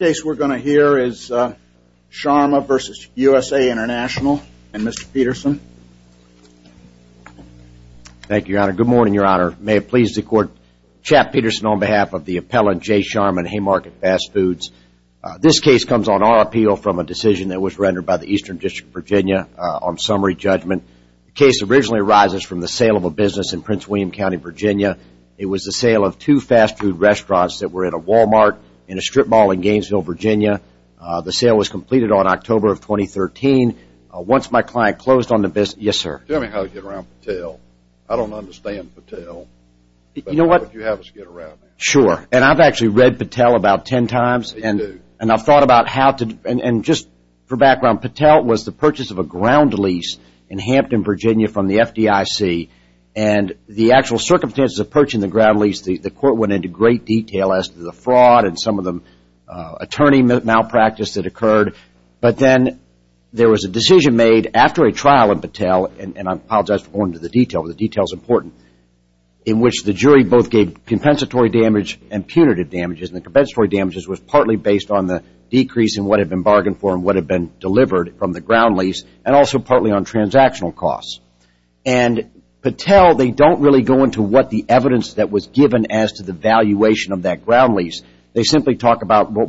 The case we're going to hear is Sharma v. USA International, and Mr. Peterson. Thank you, Your Honor. Good morning, Your Honor. May it please the Court. Chap Peterson on behalf of the appellant Jay Sharma in Haymarket Fast Foods. This case comes on our appeal from a decision that was rendered by the Eastern District of Virginia on summary judgment. The case originally arises from the sale of a business in Prince William County, Virginia. It was the sale of two fast food restaurants that were at a Walmart and a strip mall in Gainesville, Virginia. The sale was completed on October of 2013. Once my client closed on the business... Yes, sir. Tell me how to get around Patel. I don't understand Patel. You know what? But how would you have us get around him? Sure. And I've actually read Patel about ten times. You do? And I've thought about how to... And just for background, Patel was the purchase of a ground lease in Hampton, Virginia from the FDIC. And the actual circumstances of purchasing the ground lease, the court went into great detail as to the fraud and some of the attorney malpractice that occurred. But then there was a decision made after a trial in Patel, and I apologize for going into the detail, but the detail is important, in which the jury both gave compensatory damage and punitive damages. And the compensatory damages was partly based on the decrease in what had been bargained for and what had been delivered from the ground lease and also partly on transactional costs. And Patel, they don't really go into what the evidence that was given as to the valuation of that ground lease. They simply talk about it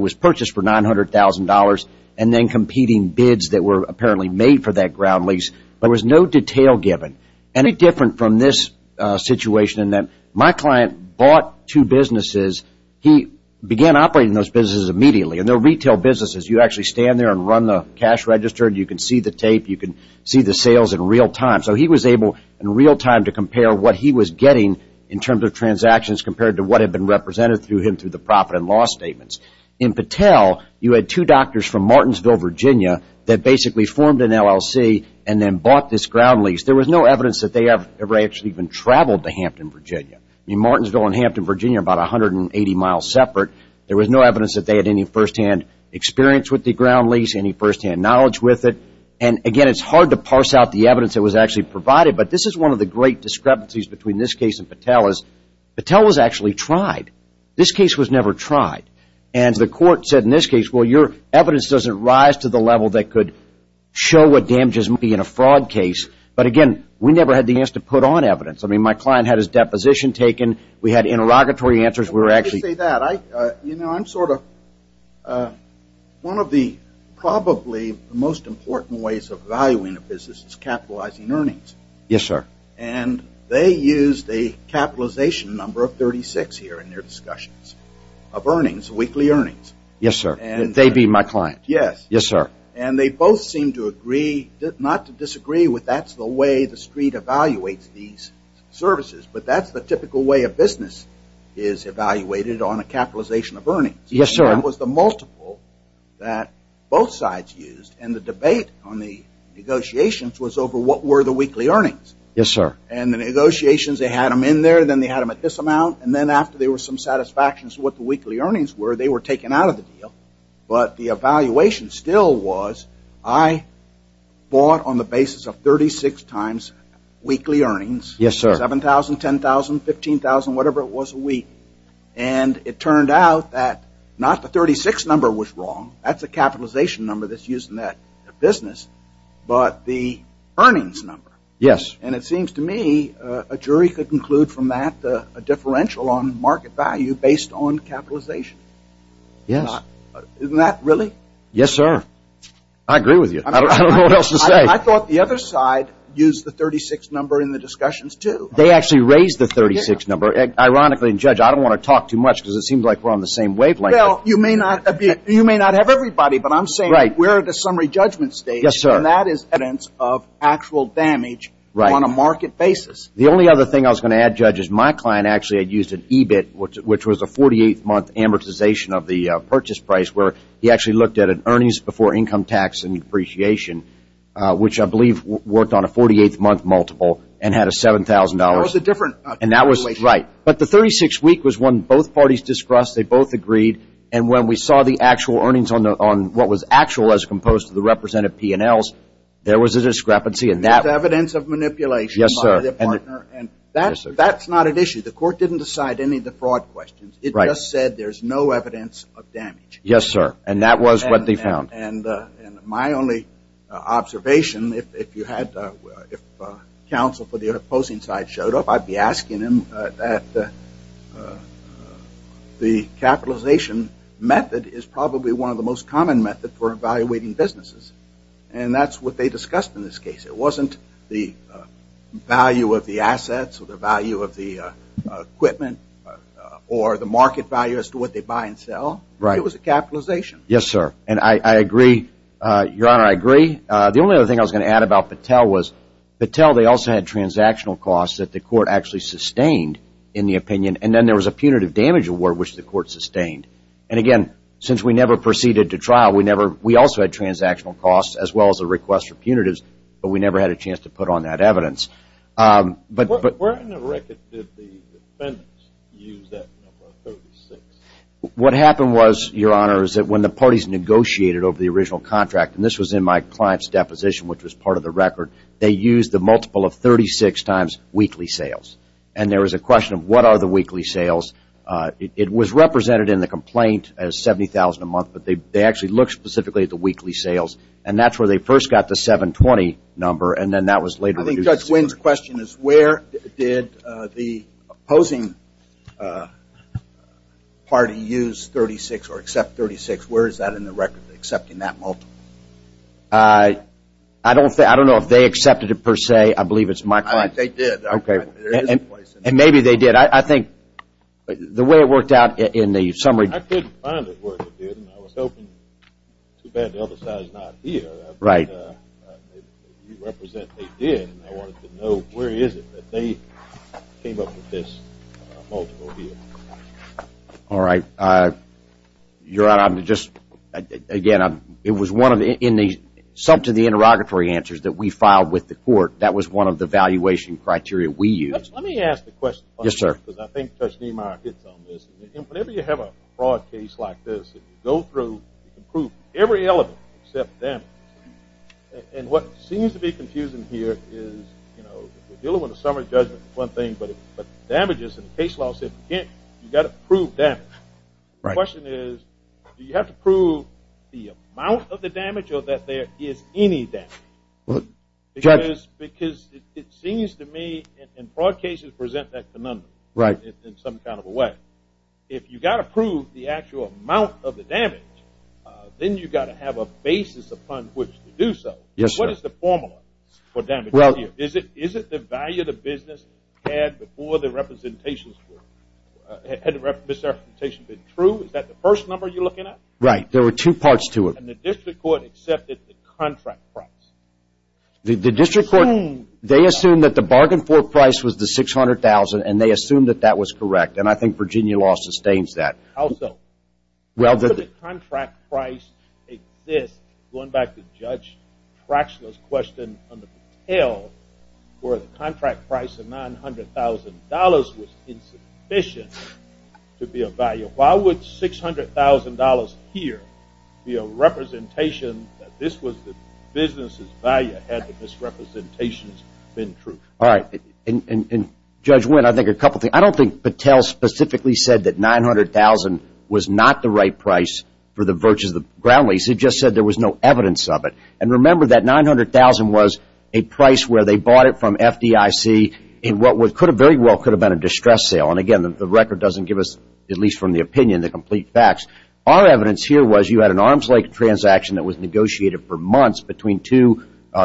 was purchased for $900,000 and then competing bids that were apparently made for that ground lease. There was no detail given. And it's different from this situation in that my client bought two businesses. He began operating those businesses immediately. And they're retail businesses. You actually stand there and run the cash register, and you can see the tape. You can see the sales in real time. So he was able in real time to compare what he was getting in terms of transactions compared to what had been represented to him through the profit and loss statements. In Patel, you had two doctors from Martinsville, Virginia that basically formed an LLC and then bought this ground lease. There was no evidence that they ever actually even traveled to Hampton, Virginia. I mean, Martinsville and Hampton, Virginia are about 180 miles separate. There was no evidence that they had any firsthand experience with the ground lease, any firsthand knowledge with it. And, again, it's hard to parse out the evidence that was actually provided. But this is one of the great discrepancies between this case and Patel is Patel was actually tried. This case was never tried. And the court said in this case, well, your evidence doesn't rise to the level that could show what damages may be in a fraud case. But, again, we never had the answer to put on evidence. I mean, my client had his deposition taken. We had interrogatory answers. You know, I'm sort of one of the probably most important ways of valuing a business is capitalizing earnings. Yes, sir. And they used a capitalization number of 36 here in their discussions of earnings, weekly earnings. Yes, sir. They'd be my client. Yes. Yes, sir. And they both seem to agree, not to disagree with that's the way the street evaluates these services, but that's the typical way a business is evaluated on a capitalization of earnings. Yes, sir. And that was the multiple that both sides used. And the debate on the negotiations was over what were the weekly earnings. Yes, sir. And the negotiations, they had them in there. Then they had them at this amount. And then after there was some satisfaction as to what the weekly earnings were, they were taken out of the deal. But the evaluation still was I bought on the basis of 36 times weekly earnings. Yes, sir. 7,000, 10,000, 15,000, whatever it was a week. And it turned out that not the 36 number was wrong. That's a capitalization number that's used in that business, but the earnings number. Yes. And it seems to me a jury could conclude from that a differential on market value based on capitalization. Yes. Isn't that really? I agree with you. I don't know what else to say. I thought the other side used the 36 number in the discussions, too. They actually raised the 36 number. Ironically, Judge, I don't want to talk too much because it seems like we're on the same wavelength. Well, you may not have everybody, but I'm saying where are the summary judgment states? Yes, sir. And that is evidence of actual damage on a market basis. The only other thing I was going to add, Judge, is my client actually had used an EBIT, which was a 48-month amortization of the purchase price, where he actually looked at an earnings before income tax and depreciation, which I believe worked on a 48-month multiple and had a $7,000. That was a different calculation. Right. But the 36 week was one both parties discussed. They both agreed. And when we saw the actual earnings on what was actual as composed of the representative P&Ls, there was a discrepancy in that. There's evidence of manipulation by the partner. Yes, sir. And that's not an issue. The court didn't decide any of the fraud questions. It just said there's no evidence of damage. Yes, sir. And that was what they found. And my only observation, if counsel for the opposing side showed up, I'd be asking him that the capitalization method is probably one of the most common methods for evaluating businesses. And that's what they discussed in this case. It wasn't the value of the assets or the value of the equipment or the market value as to what they buy and sell. Right. It was a capitalization. Yes, sir. And I agree. Your Honor, I agree. The only other thing I was going to add about Patel was Patel, they also had transactional costs that the court actually sustained in the opinion. And then there was a punitive damage award, which the court sustained. And, again, since we never proceeded to trial, we also had transactional costs as well as a request for punitives, but we never had a chance to put on that evidence. Where in the record did the defendants use that number, 36? What happened was, Your Honor, is that when the parties negotiated over the original contract, and this was in my client's deposition, which was part of the record, they used the multiple of 36 times weekly sales. And there was a question of what are the weekly sales. It was represented in the complaint as $70,000 a month, but they actually looked specifically at the weekly sales. And that's where they first got the 720 number, and then that was later reduced. I think Judge Wynn's question is where did the opposing party use 36 or accept 36. Where is that in the record, accepting that multiple? I don't know if they accepted it per se. I believe it's my client. They did. Okay. And maybe they did. I think the way it worked out in the summary. I couldn't find it where it did, and I was hoping too bad the other side is not here. Right. You represent they did, and I wanted to know where is it that they came up with this multiple here. All right. Your Honor, I'm going to just, again, it was one of the, in the sum to the interrogatory answers that we filed with the court, that was one of the valuation criteria we used. Let me ask the question. Yes, sir. Because I think Judge Niemeyer hits on this. Whenever you have a fraud case like this, you can prove every element except damage. And what seems to be confusing here is, you know, we're dealing with a summary judgment is one thing, but damages in the case law, you've got to prove damage. The question is do you have to prove the amount of the damage or that there is any damage? Because it seems to me in fraud cases present that phenomenon in some kind of a way. If you've got to prove the actual amount of the damage, then you've got to have a basis upon which to do so. Yes, sir. What is the formula for damage? Is it the value the business had before the representations were, had the misrepresentation been true? Is that the first number you're looking at? Right. There were two parts to it. And the district court accepted the contract price. The district court, they assumed that the bargain for price was the $600,000, and they assumed that that was correct. And I think Virginia law sustains that. Also, could the contract price exist, going back to Judge Trachula's question under Patel, where the contract price of $900,000 was insufficient to be of value. Why would $600,000 here be a representation that this was the business's value had the misrepresentations been true? All right. And Judge Wynn, I think a couple things. I specifically said that $900,000 was not the right price for the virtues of ground lease. He just said there was no evidence of it. And remember that $900,000 was a price where they bought it from FDIC in what very well could have been a distress sale. And, again, the record doesn't give us, at least from the opinion, the complete facts. Our evidence here was you had an arms-length transaction that was negotiated for months between two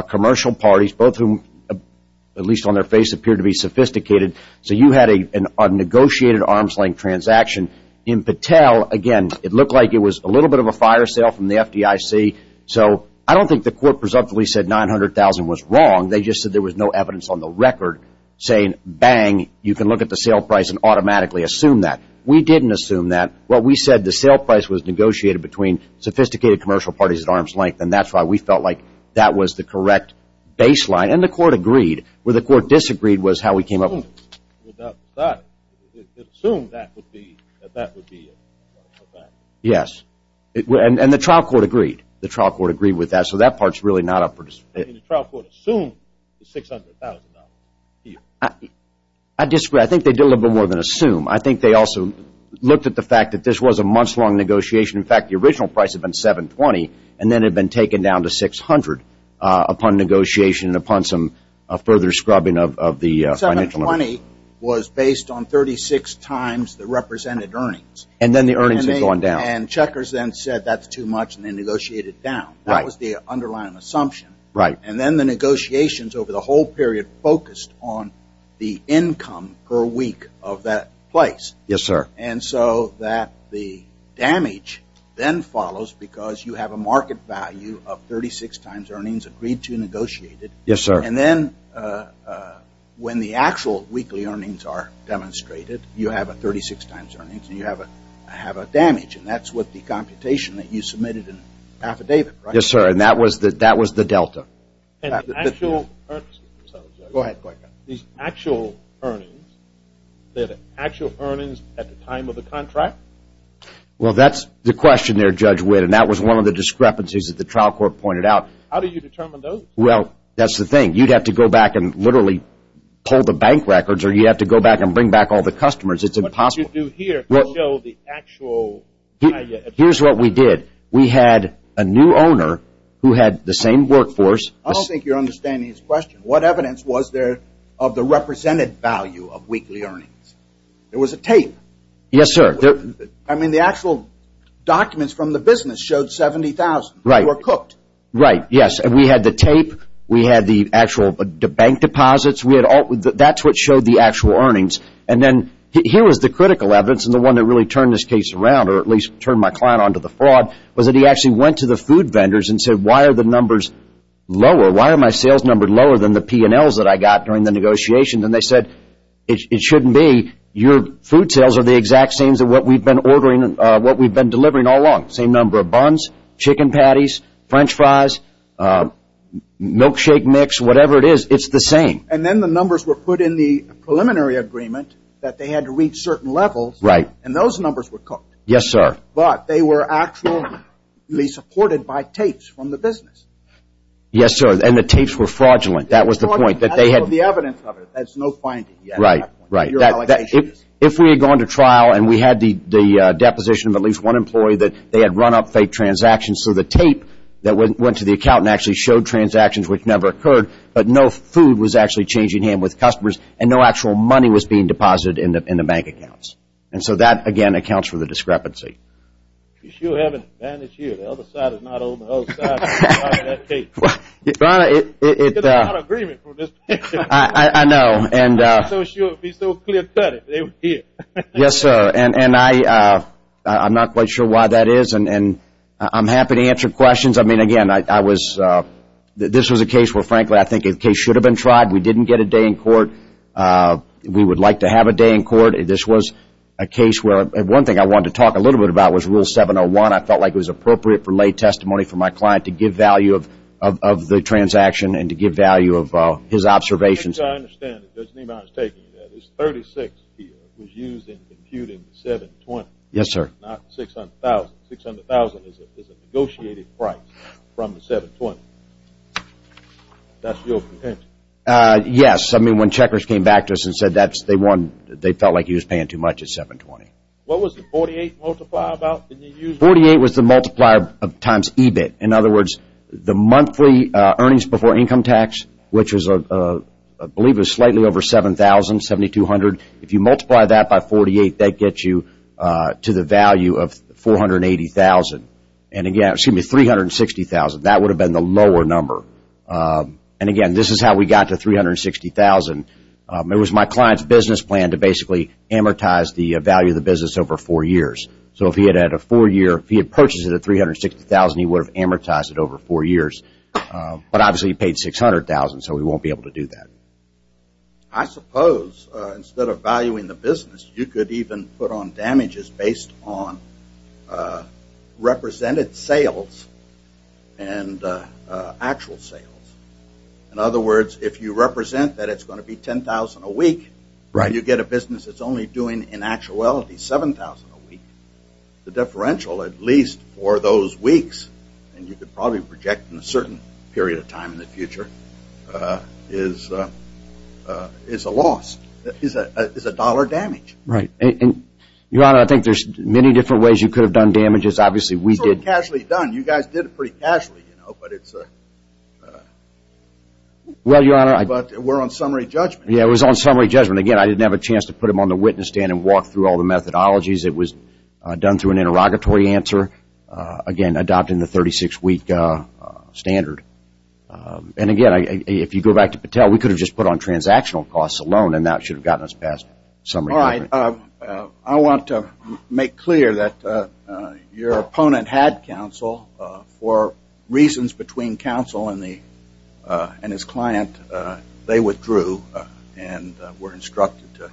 commercial parties, both of whom, at least on their face, appeared to be sophisticated. So you had a negotiated arms-length transaction. In Patel, again, it looked like it was a little bit of a fire sale from the FDIC. So I don't think the court presumptively said $900,000 was wrong. They just said there was no evidence on the record saying, bang, you can look at the sale price and automatically assume that. We didn't assume that. What we said, the sale price was negotiated between sophisticated commercial parties at arms length, and that's why we felt like that was the correct baseline. And the court agreed. Where the court disagreed was how we came up with that. It assumed that would be a fact. Yes. And the trial court agreed. The trial court agreed with that. So that part's really not up for discussion. The trial court assumed the $600,000. I disagree. I think they did a little bit more than assume. I think they also looked at the fact that this was a months-long negotiation. In fact, the original price had been $720,000, and then had been taken down to $600,000 upon negotiation and upon some further scrubbing of the financial limit. $720,000 was based on 36 times the represented earnings. And then the earnings had gone down. And checkers then said that's too much, and they negotiated it down. Right. That was the underlying assumption. Right. And then the negotiations over the whole period focused on the income per week of that place. Yes, sir. And so that the damage then follows because you have a market value of 36 times earnings agreed to negotiated. Yes, sir. And then when the actual weekly earnings are demonstrated, you have a 36 times earnings, and you have a damage, and that's what the computation that you submitted in the affidavit, right? Yes, sir, and that was the delta. And the actual earnings at the time of the contract? Well, that's the question there, Judge Witt, and that was one of the discrepancies that the trial court pointed out. How do you determine those? Well, that's the thing. You'd have to go back and literally pull the bank records, or you'd have to go back and bring back all the customers. It's impossible. What you do here will show the actual value. Here's what we did. We had a new owner who had the same workforce. I don't think you're understanding his question. What evidence was there of the represented value of weekly earnings? There was a tape. Yes, sir. I mean, the actual documents from the business showed 70,000 were cooked. Right, yes, and we had the tape. We had the actual bank deposits. That's what showed the actual earnings. And then here was the critical evidence, and the one that really turned this case around, or at least turned my client on to the fraud, was that he actually went to the food vendors and said, Why are the numbers lower? Why are my sales numbers lower than the P&Ls that I got during the negotiation? And they said, It shouldn't be. Your food sales are the exact same as what we've been ordering, what we've been delivering all along. Same number of buns, chicken patties, french fries, milkshake mix, whatever it is. It's the same. And then the numbers were put in the preliminary agreement that they had to reach certain levels. Right. And those numbers were cooked. Yes, sir. But they were actually supported by tapes from the business. Yes, sir, and the tapes were fraudulent. That was the point. That's all the evidence of it. That's no finding yet. Right, right. If we had gone to trial and we had the deposition of at least one employee that they had run up fake transactions, so the tape that went to the accountant actually showed transactions which never occurred, but no food was actually changing hands with customers, and no actual money was being deposited in the bank accounts. And so that, again, accounts for the discrepancy. You sure have an advantage here. The other side is not on the other side of that tape. It's not an agreement from this point of view. I know. I'm not so sure it would be so clear-cut if they were here. Yes, sir, and I'm not quite sure why that is, and I'm happy to answer questions. I mean, again, this was a case where, frankly, I think a case should have been tried. We didn't get a day in court. We would like to have a day in court. This was a case where one thing I wanted to talk a little bit about was Rule 701. I felt like it was appropriate for lay testimony for my client to give value of the transaction and to give value of his observations. As far as I understand it, as Neiman is taking it, that is 36 was used in computing the 720. Yes, sir. Not 600,000. 600,000 is a negotiated price from the 720. That's your contention? Yes. I mean, when checkers came back to us and said they felt like he was paying too much at 720. What was the 48 multiplier about? 48 was the multiplier times EBIT. In other words, the monthly earnings before income tax, which I believe is slightly over 7,000, 7,200, if you multiply that by 48, that gets you to the value of 480,000. And again, excuse me, 360,000. That would have been the lower number. And again, this is how we got to 360,000. It was my client's business plan to basically amortize the value of the business over four years. So if he had purchased it at 360,000, he would have amortized it over four years. But obviously he paid 600,000, so he won't be able to do that. I suppose instead of valuing the business, you could even put on damages based on represented sales and actual sales. In other words, if you represent that it's going to be 10,000 a week, you get a business that's only doing, in actuality, 7,000 a week. The differential, at least for those weeks, and you could probably project in a certain period of time in the future, is a loss, is a dollar damage. Right. Your Honor, I think there's many different ways you could have done damages. Obviously, we did. It's all casually done. You guys did it pretty casually, you know, but it's a... Well, Your Honor, I... But we're on summary judgment. Yeah, it was on summary judgment. Again, I didn't have a chance to put them on the witness stand and walk through all the methodologies. It was done through an interrogatory answer, again, adopting the 36-week standard. And again, if you go back to Patel, we could have just put on transactional costs alone, and that should have gotten us past summary judgment. All right. I want to make clear that your opponent had counsel for reasons between counsel and his client. They withdrew and were instructed to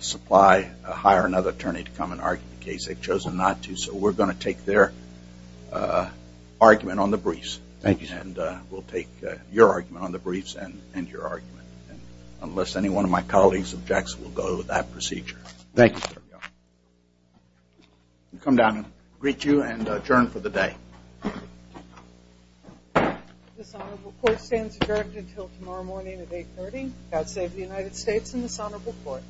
supply, hire another attorney to come and argue the case. They've chosen not to, so we're going to take their argument on the briefs. Thank you, sir. And we'll take your argument on the briefs and your argument, unless any one of my colleagues objects, we'll go with that procedure. Thank you, sir. Come down and greet you and adjourn for the day. This honorable court stands adjourned until tomorrow morning at 8.30. God save the United States and this honorable court.